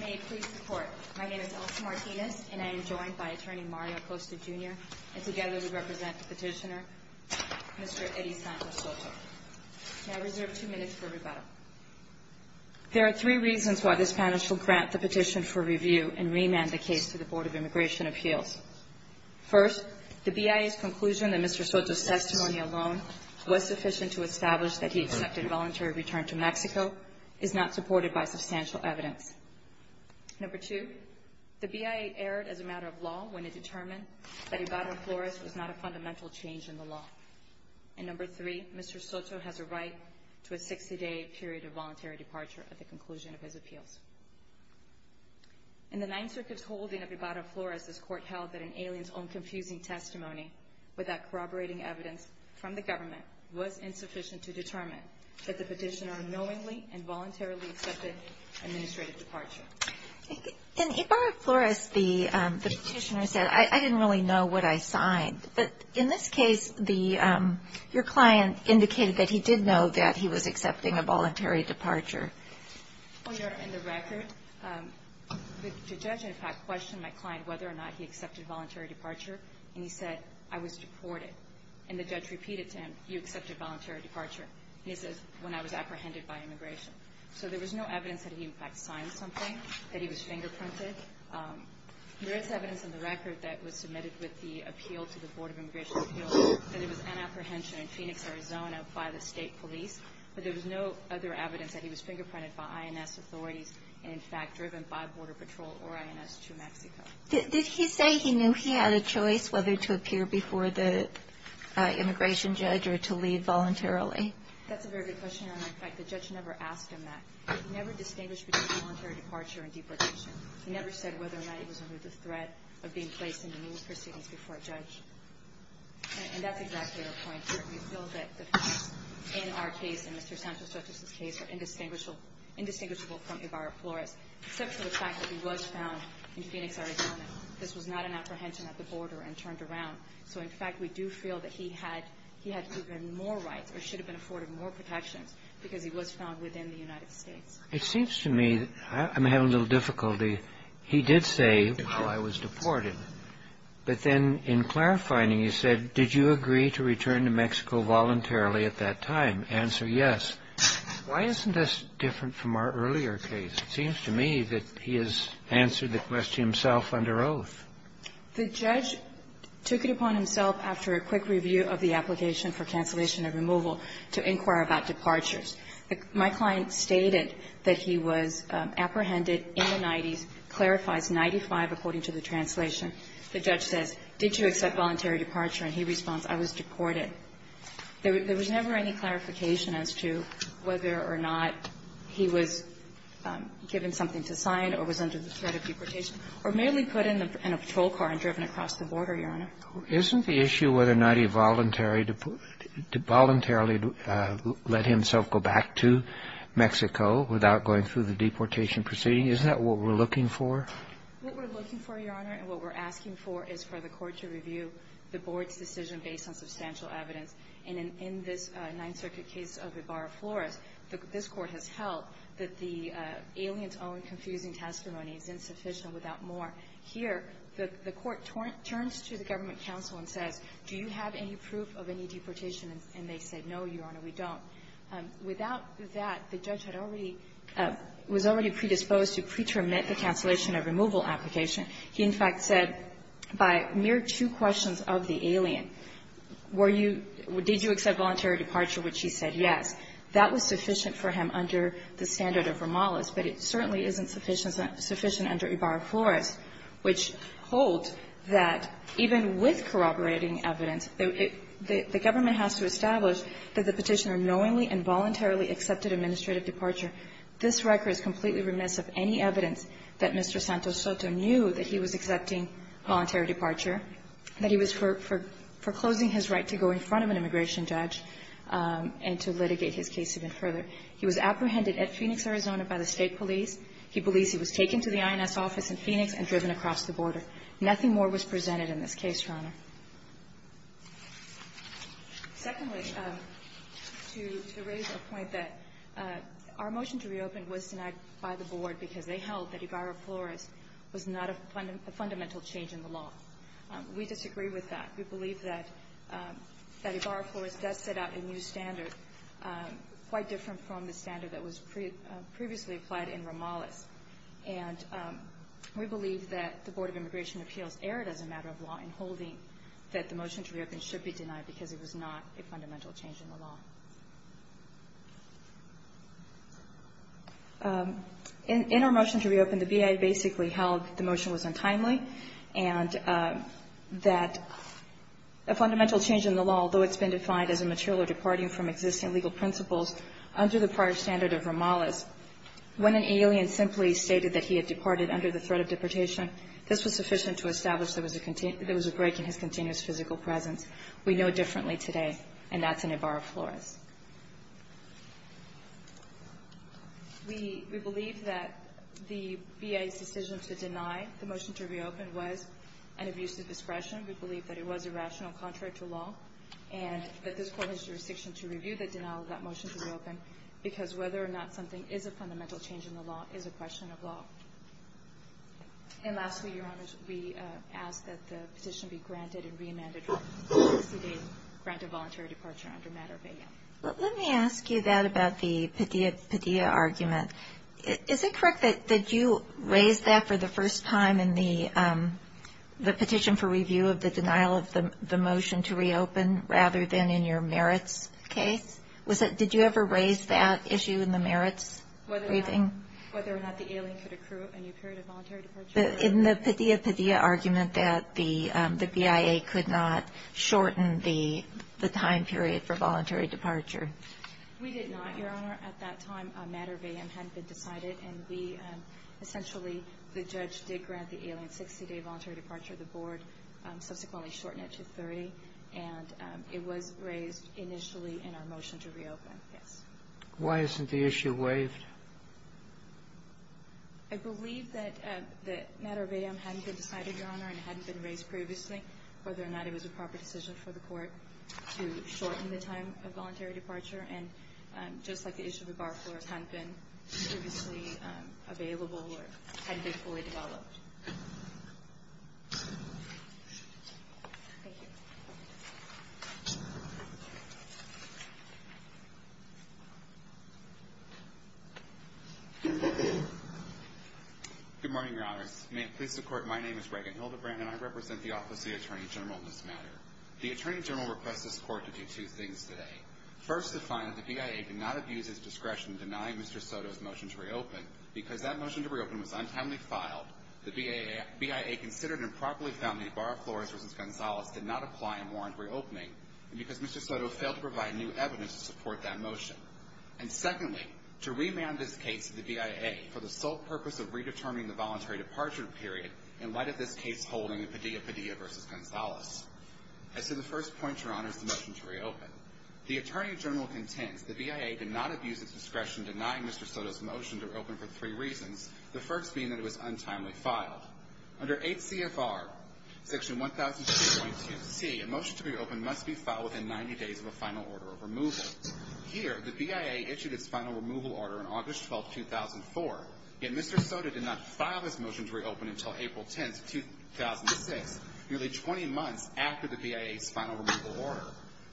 May it please the Court, my name is Elsa Martinez and I am joined by Attorney Mario Acosta Jr. and together we represent the petitioner, Mr. Eddie Santos Soto. May I reserve two minutes for rebuttal? There are three reasons why this panel shall grant the petition for review and remand the case to the Board of Immigration Appeals. First, the BIA's conclusion that Mr. Soto's testimony alone was sufficient to establish that he accepted a voluntary return to Mexico is not supported by substantial evidence. Number two, the BIA erred as a matter of law when it determined that Ibarra-Flores was not a fundamental change in the law. And number three, Mr. Soto has a right to a 60-day period of voluntary departure at the conclusion of his appeals. In the Ninth Circuit's holding of Ibarra-Flores, this Court held that an alien's own confusing testimony without corroborating evidence from the government was insufficient to determine that the petitioner unknowingly and voluntarily accepted administrative departure. In Ibarra-Flores, the petitioner said, I didn't really know what I signed. But in this case, your client indicated that he did know that he was accepting a voluntary departure. Well, Your Honor, in the record, the judge, in fact, questioned my client whether or not he accepted voluntary departure and he said, I was deported. And the judge repeated to him, you accepted voluntary departure. He says, when I was apprehended by immigration. So there was no evidence that he, in fact, signed something, that he was fingerprinted. There is evidence in the record that was submitted with the appeal to the Board of Immigration Appeals that it was an apprehension in Phoenix, Arizona, by the state police. But there was no other evidence that he was fingerprinted by INS authorities and, in fact, driven by Border Patrol or INS to Mexico. Did he say he knew he had a choice whether to appear before the immigration judge or to leave voluntarily? That's a very good question, Your Honor. In fact, the judge never asked him that. He never distinguished between voluntary departure and deportation. He never said whether or not he was under the threat of being placed in the news proceedings before a judge. And that's exactly your point. We feel that the facts in our case and Mr. Santos-Sotos' case are indistinguishable from Ibarra-Flores, except for the fact that he was found in Phoenix, Arizona. This was not an apprehension at the border and turned around. So, in fact, we do feel that he had even more rights or should have been afforded more protections because he was found within the United States. It seems to me I'm having a little difficulty. He did say, while I was deported, but then in clarifying he said, did you agree to return to Mexico voluntarily at that time? Answer, yes. Why isn't this different from our earlier case? It seems to me that he has answered the question himself under oath. The judge took it upon himself after a quick review of the application for cancellation and removal to inquire about departures. My client stated that he was apprehended in the 90s, clarifies 95 according to the translation. The judge says, did you accept voluntary departure? And he responds, I was deported. There was never any clarification as to whether or not he was given something to sign or was under the threat of deportation or merely put in a patrol car and driven across the border, Your Honor. Isn't the issue whether or not he voluntarily let himself go back to Mexico without going through the deportation proceeding, isn't that what we're looking for? What we're looking for, Your Honor, and what we're asking for is for the court to review the board's decision based on substantial evidence. And in this Ninth Circuit case of Ibarra-Flores, this Court has held that the alien's own confusing testimony is insufficient without more. Here, the court turns to the government counsel and says, do you have any proof of any deportation? And they say, no, Your Honor, we don't. Without that, the judge had already – was already predisposed to pretermine the cancellation or removal application. He, in fact, said by mere two questions of the alien, were you – did you accept voluntary departure, which he said yes. That was sufficient for him under the standard of Romales, but it certainly isn't sufficient under Ibarra-Flores, which holds that even with corroborating evidence, the government has to establish that the Petitioner knowingly and voluntarily accepted administrative departure. This record is completely remiss of any evidence that Mr. Santos Soto knew that he was accepting voluntary departure, that he was foreclosing his right to go in front of an immigration judge and to litigate his case even further. He was apprehended at Phoenix, Arizona by the State police. He believes he was taken to the INS office in Phoenix and driven across the border. Nothing more was presented in this case, Your Honor. Secondly, to raise a point that our motion to reopen was denied by the Board because they held that Ibarra-Flores was not a fundamental change in the law. We disagree with that. We believe that Ibarra-Flores does set out a new standard quite different from the standard that was previously applied in Romales. And we believe that the motion to reopen should be denied because it was not a fundamental change in the law. In our motion to reopen, the BIA basically held the motion was untimely and that a fundamental change in the law, although it's been defined as a material departing from existing legal principles under the prior standard of Romales, when an alien simply stated that he had departed under the threat of deportation, this was sufficient to establish there was a break in his continuous physical presence. We know differently today, and that's in Ibarra-Flores. We believe that the BIA's decision to deny the motion to reopen was an abuse of discretion. We believe that it was irrational contrary to law and that this Court has jurisdiction to review the denial of that motion to reopen because whether or not something is a fundamental change in the law is a question of law. And lastly, Your Honor, we ask that the petition be granted and re-amended. We ask that it be granted voluntary departure under matter of A.M. Let me ask you that about the Padilla argument. Is it correct that you raised that for the first time in the petition for review of the denial of the motion to reopen rather than in your merits case? Did you ever raise that issue in the merits briefing? Whether or not the alien could accrue a new period of voluntary departure. In the Padilla, Padilla argument that the BIA could not shorten the time period for voluntary departure. We did not, Your Honor. At that time, a matter of A.M. hadn't been decided, and we essentially, the judge did grant the alien 60-day voluntary departure of the board, subsequently shorten it to 30. And it was raised initially in our motion to reopen, yes. Why isn't the issue waived? I believe that the matter of A.M. hadn't been decided, Your Honor, and hadn't been raised previously, whether or not it was a proper decision for the Court to shorten the time of voluntary departure. And just like the issue of the bar floors hadn't been previously available or hadn't been fully developed. Thank you. Good morning, Your Honors. May it please the Court, my name is Reagan Hildebrand, and I represent the Office of the Attorney General in this matter. The Attorney General requests this Court to do two things today. First, to find that the BIA could not have used its discretion in denying Mr. Soto's motion to reopen, because that motion to reopen was untimely filed, the BIA considered improperly found that the bar floors versus Gonzalez did not apply and warrant reopening, and because Mr. Soto failed to provide new evidence to support that motion. And secondly, to remand this case to the BIA for the sole purpose of redetermining the voluntary departure period in light of this case holding in Padilla, Padilla versus Gonzalez. As to the first point, Your Honors, the motion to reopen, the Attorney General contends the BIA could not have used its discretion denying Mr. Soto's motion to reopen for three reasons. The first being that it was untimely filed. Under 8 CFR section 1002.2C, a motion to reopen must be filed within 90 days of a final order of removal. Here, the BIA issued its final removal order on August 12, 2004, yet Mr. Soto did not the BIA's final removal order.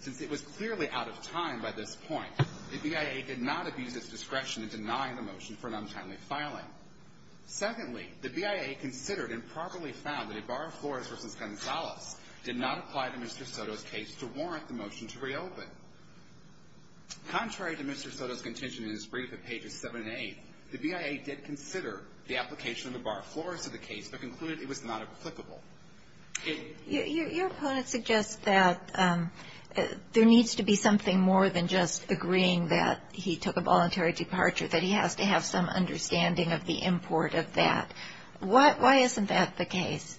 Since it was clearly out of time by this point, the BIA did not abuse its discretion in denying the motion for an untimely filing. Secondly, the BIA considered improperly found that a bar of floors versus Gonzalez did not apply to Mr. Soto's case to warrant the motion to reopen. Contrary to Mr. Soto's contention in his brief at pages 7 and 8, the BIA did consider the application of the bar of floors to the case, but concluded it was not applicable. Your opponent suggests that there needs to be something more than just agreeing that he took a voluntary departure, that he has to have some understanding of the import of that. Why isn't that the case?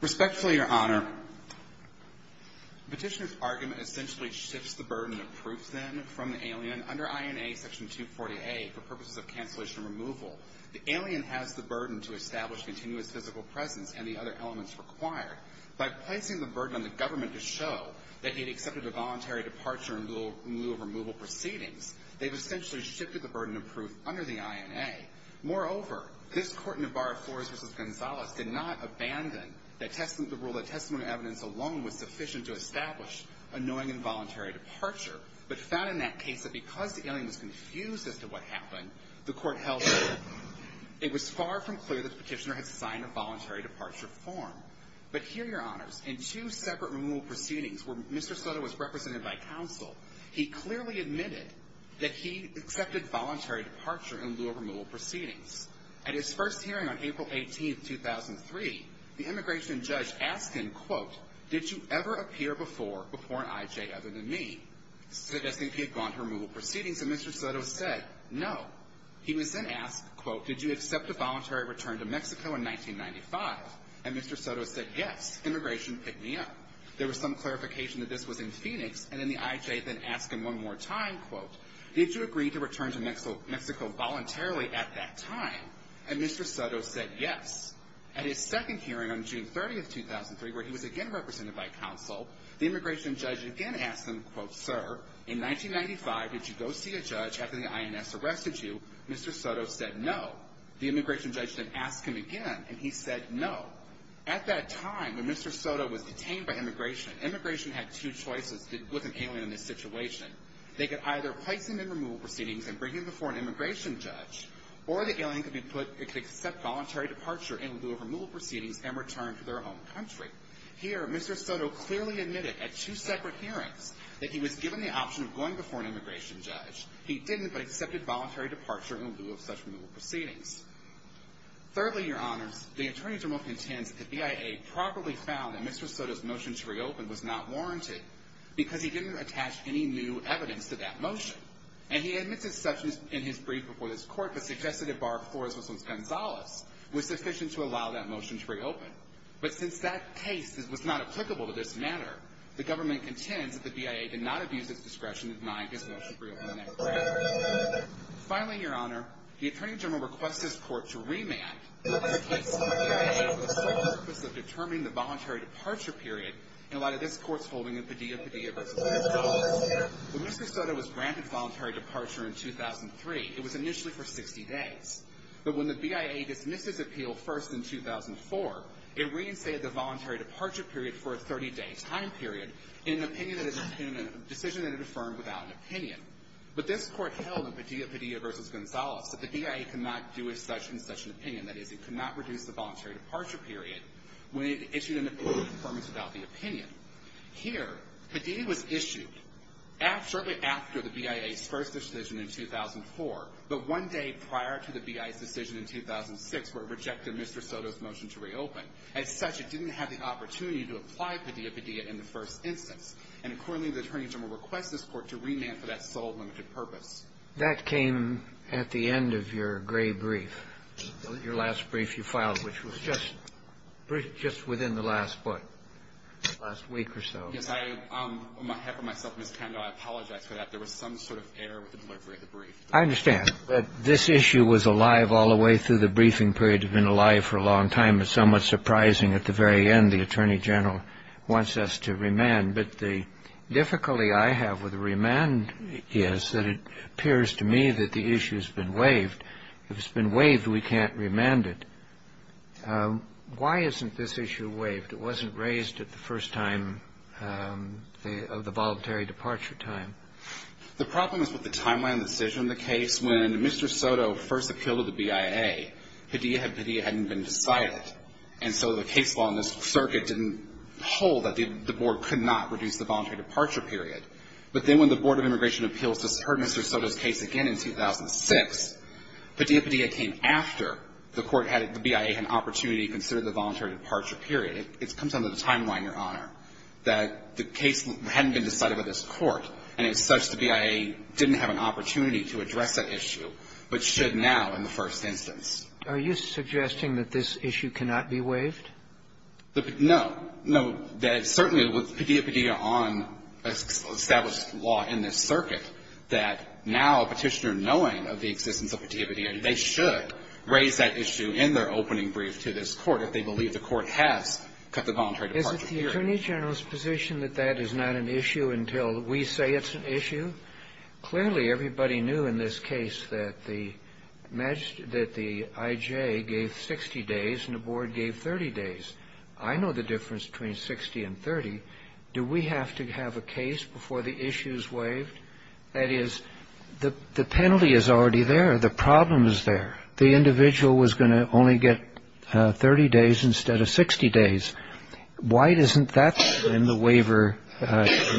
Respectfully, Your Honor, Petitioner's argument essentially shifts the burden of proof then from the alien. Under INA section 240A, for purposes of cancellation removal, the alien has the burden to establish continuous physical presence and the other elements required. By placing the burden on the government to show that he had accepted a voluntary departure in lieu of removal proceedings, they've essentially shifted the burden of proof under the INA. Moreover, this Court in the bar of floors versus Gonzalez did not abandon the rule that testimony evidence alone was sufficient to establish a knowing and voluntary departure, but found in that case that because the alien was confused as to what happened, the Court held that it was far from clear that Petitioner had signed a voluntary departure form. But here, Your Honors, in two separate removal proceedings where Mr. Soto was represented by counsel, he clearly admitted that he accepted voluntary departure in lieu of removal proceedings. At his first hearing on April 18, 2003, the immigration judge asked him, quote, did you ever appear before an IJ other than me, suggesting he had gone to removal proceedings? And Mr. Soto said, no. He was then asked, quote, did you accept a voluntary return to Mexico in 1995? And Mr. Soto said, yes. Immigration picked me up. There was some clarification that this was in Phoenix, and then the IJ then asked him one more time, quote, did you agree to return to Mexico voluntarily at that time? And Mr. Soto said, yes. At his second hearing on June 30, 2003, where he was again represented by counsel, the immigration judge again asked him, quote, sir, in 1995, did you go see a judge after the INS arrested you? Mr. Soto said, no. The immigration judge then asked him again, and he said, no. At that time, when Mr. Soto was detained by immigration, immigration had two choices with an alien in this situation. They could either place him in removal proceedings and bring him before an immigration judge, or the alien could accept voluntary departure in lieu of removal proceedings and return to their home country. Here, Mr. Soto clearly admitted at two separate hearings that he was given the option of going before an immigration judge. He didn't, but accepted voluntary departure in lieu of such removal proceedings. Thirdly, your honors, the attorneys are most content that the BIA properly found that Mr. Soto's motion to reopen was not warranted because he didn't attach any new evidence to that motion. And he admitted such in his brief before this court, but suggested a bar for his Muslims Gonzalez was sufficient to allow that motion to reopen. But since that case was not applicable to this matter, the government contends that the BIA did not abuse its discretion to deny his motion to reopen that grant. Finally, your honor, the attorney general requests this court to remand the case of the BIA with the sole purpose of determining the voluntary departure period in light of this court's holding of Padilla Padilla versus Gonzalez. When Mr. Soto was granted voluntary departure in 2003, it was initially for 60 days. But when the BIA dismisses appeal first in 2004, it reinstated the voluntary departure period for a 30-day time period in a decision that it affirmed without an opinion. But this court held in Padilla Padilla versus Gonzalez that the BIA could not do as such in such an opinion. That is, it could not reduce the voluntary departure period when it issued an appeal of affirmance without the opinion. Here, Padilla was issued shortly after the BIA's first decision in 2004, but one day prior to the BIA's decision in 2006, where it rejected Mr. Soto's motion to reopen. As such, it didn't have the opportunity to apply Padilla Padilla in the first instance. And accordingly, the attorney general requests this court to remand for that sole limited purpose. That came at the end of your gray brief, your last brief you filed, which was just within the last, what, last week or so. Yes. On behalf of myself and Ms. Kendall, I apologize for that. There was some sort of error with the delivery of the brief. I understand that this issue was alive all the way through the briefing period. It had been alive for a long time. It's somewhat surprising at the very end the attorney general wants us to remand. But the difficulty I have with the remand is that it appears to me that the issue has been waived. If it's been waived, we can't remand it. Why isn't this issue waived? It wasn't raised at the first time of the voluntary departure time. The problem is with the timeline and decision of the case. When Mr. Soto first appealed to the BIA, Padilla Padilla hadn't been decided. And so the case law in this circuit didn't hold that the board could not reduce the voluntary departure period. But then when the Board of Immigration Appeals heard Mr. Soto's case again in 2006, Padilla Padilla came after the court had, the BIA had an opportunity to consider the voluntary departure period. It comes down to the timeline, Your Honor, that the case hadn't been decided by this court, and it's such that the BIA didn't have an opportunity to address that issue, but should now in the first instance. Are you suggesting that this issue cannot be waived? No. No. Certainly with Padilla Padilla on established law in this circuit, that now a Petitioner knowing of the existence of Padilla Padilla, they should raise that issue in their opening brief to this Court if they believe the Court has cut the voluntary departure Is the Attorney General's position that that is not an issue until we say it's an issue? Clearly everybody knew in this case that the I.J. gave 60 days and the Board gave 30 days. I know the difference between 60 and 30. Do we have to have a case before the issue is waived? That is, the penalty is already there. The problem is there. The individual was going to only get 30 days instead of 60 days. Why isn't that when the waiver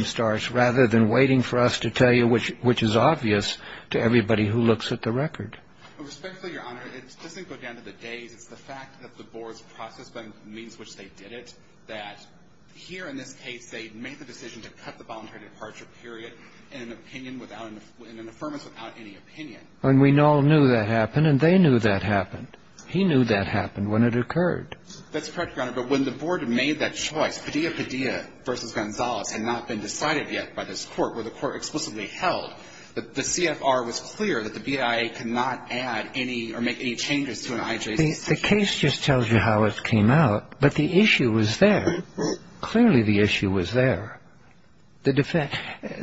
starts rather than waiting for us to tell you, which is obvious to everybody who looks at the record? Respectfully, Your Honor, it doesn't go down to the days. It's the fact that the Board's process by means which they did it that here in this case they made the decision to cut the voluntary departure period in an opinion without an – in an affirmance without any opinion. And we all knew that happened, and they knew that happened. He knew that happened when it occurred. That's correct, Your Honor. But when the Board made that choice, Padilla-Padilla v. Gonzales had not been decided yet by this Court, where the Court explicitly held that the CFR was clear that the BIA could not add any or make any changes to an IJC. The case just tells you how it came out, but the issue was there. Clearly the issue was there. The defense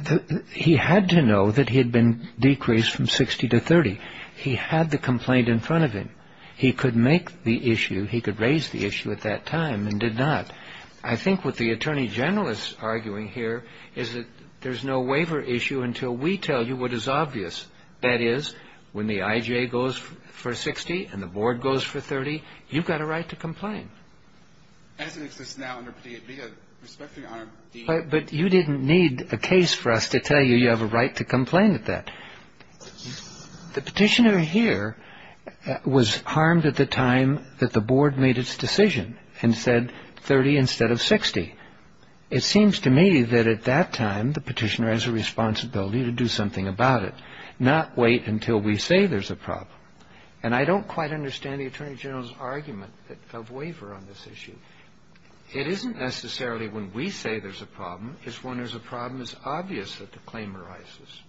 – he had to know that he had been decreased from 60 to 30. He had the complaint in front of him. He could make the issue – he could raise the issue at that time and did not. I think what the Attorney General is arguing here is that there's no waiver issue until we tell you what is obvious. That is, when the IJ goes for 60 and the Board goes for 30, you've got a right to complain. That doesn't exist now under Padilla. Respectfully, Your Honor. But you didn't need a case for us to tell you you have a right to complain at that. The Petitioner here was harmed at the time that the Board made its decision and said 30 instead of 60. It seems to me that at that time the Petitioner has a responsibility to do something about it, not wait until we say there's a problem. And I don't quite understand the Attorney General's argument of waiver on this issue. It isn't necessarily when we say there's a problem. It's when there's a problem it's obvious that the claim arises.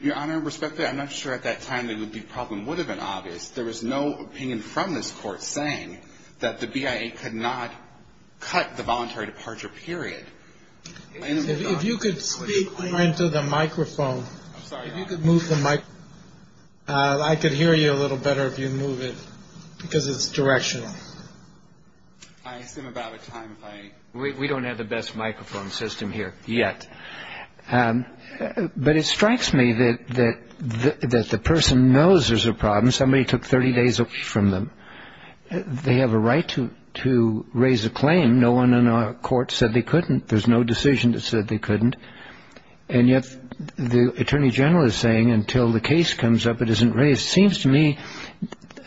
Your Honor, respectfully, I'm not sure at that time that the problem would have been obvious. There was no opinion from this Court saying that the BIA could not cut the voluntary departure period. If you could speak into the microphone. I'm sorry, Your Honor. If you could move the microphone. I could hear you a little better if you move it because it's directional. I assume about a time if I... We don't have the best microphone system here yet. But it strikes me that the person knows there's a problem. Somebody took 30 days from them. They have a right to raise a claim. No one in our Court said they couldn't. There's no decision that said they couldn't. And yet the Attorney General is saying until the case comes up it isn't raised. It seems to me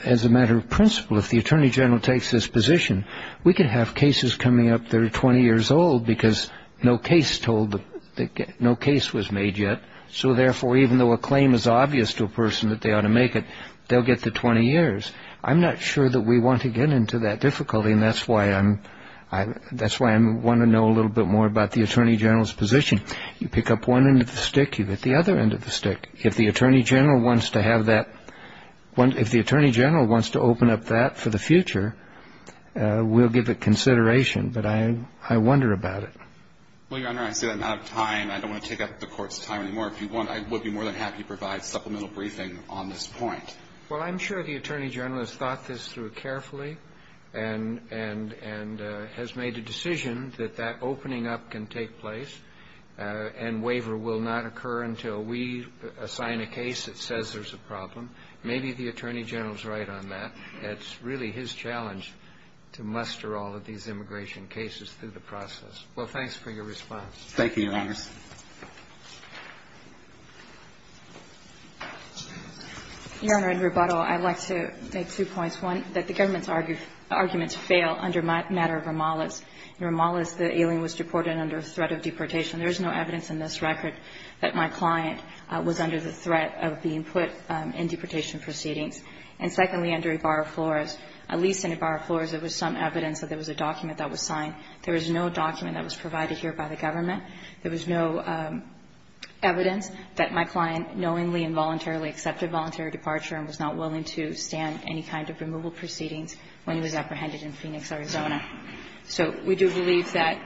as a matter of principle if the Attorney General takes this position, we could have cases coming up that are 20 years old because no case was made yet. So, therefore, even though a claim is obvious to a person that they ought to make it, they'll get to 20 years. I'm not sure that we want to get into that difficulty, and that's why I want to know a little bit more about the Attorney General's position. You pick up one end of the stick, you get the other end of the stick. If the Attorney General wants to have that... If the Attorney General wants to open up that for the future, we'll give it consideration. But I wonder about it. Well, Your Honor, I say that out of time. I don't want to take up the Court's time anymore. I would be more than happy to provide supplemental briefing on this point. Well, I'm sure the Attorney General has thought this through carefully and has made a decision that that opening up can take place and waiver will not occur until we assign a case that says there's a problem. Maybe the Attorney General's right on that. It's really his challenge to muster all of these immigration cases through the process. Well, thanks for your response. Thank you, Your Honor. Your Honor, in rebuttal, I'd like to make two points. One, that the government's arguments fail under the matter of Romales. In Romales, the alien was deported under threat of deportation. There is no evidence in this record that my client was under the threat of being put in deportation proceedings. And secondly, under Ibarra-Flores, at least in Ibarra-Flores, there was some evidence that there was a document that was signed. There was no document that was provided here by the government. There was no evidence that my client knowingly and voluntarily accepted voluntary departure and was not willing to stand any kind of removal proceedings when he was apprehended in Phoenix, Arizona. So we do believe that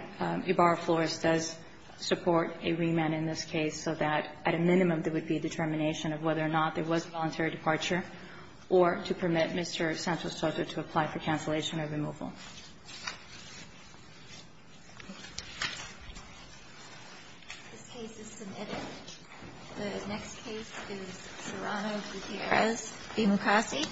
Ibarra-Flores does support a remand in this case so that, at a minimum, there would be a determination of whether or not there was voluntary departure, or to permit Mr. Santos-Soto to apply for cancellation or removal. This case is submitted. The next case is Serrano-Gutierrez v. Mukasey.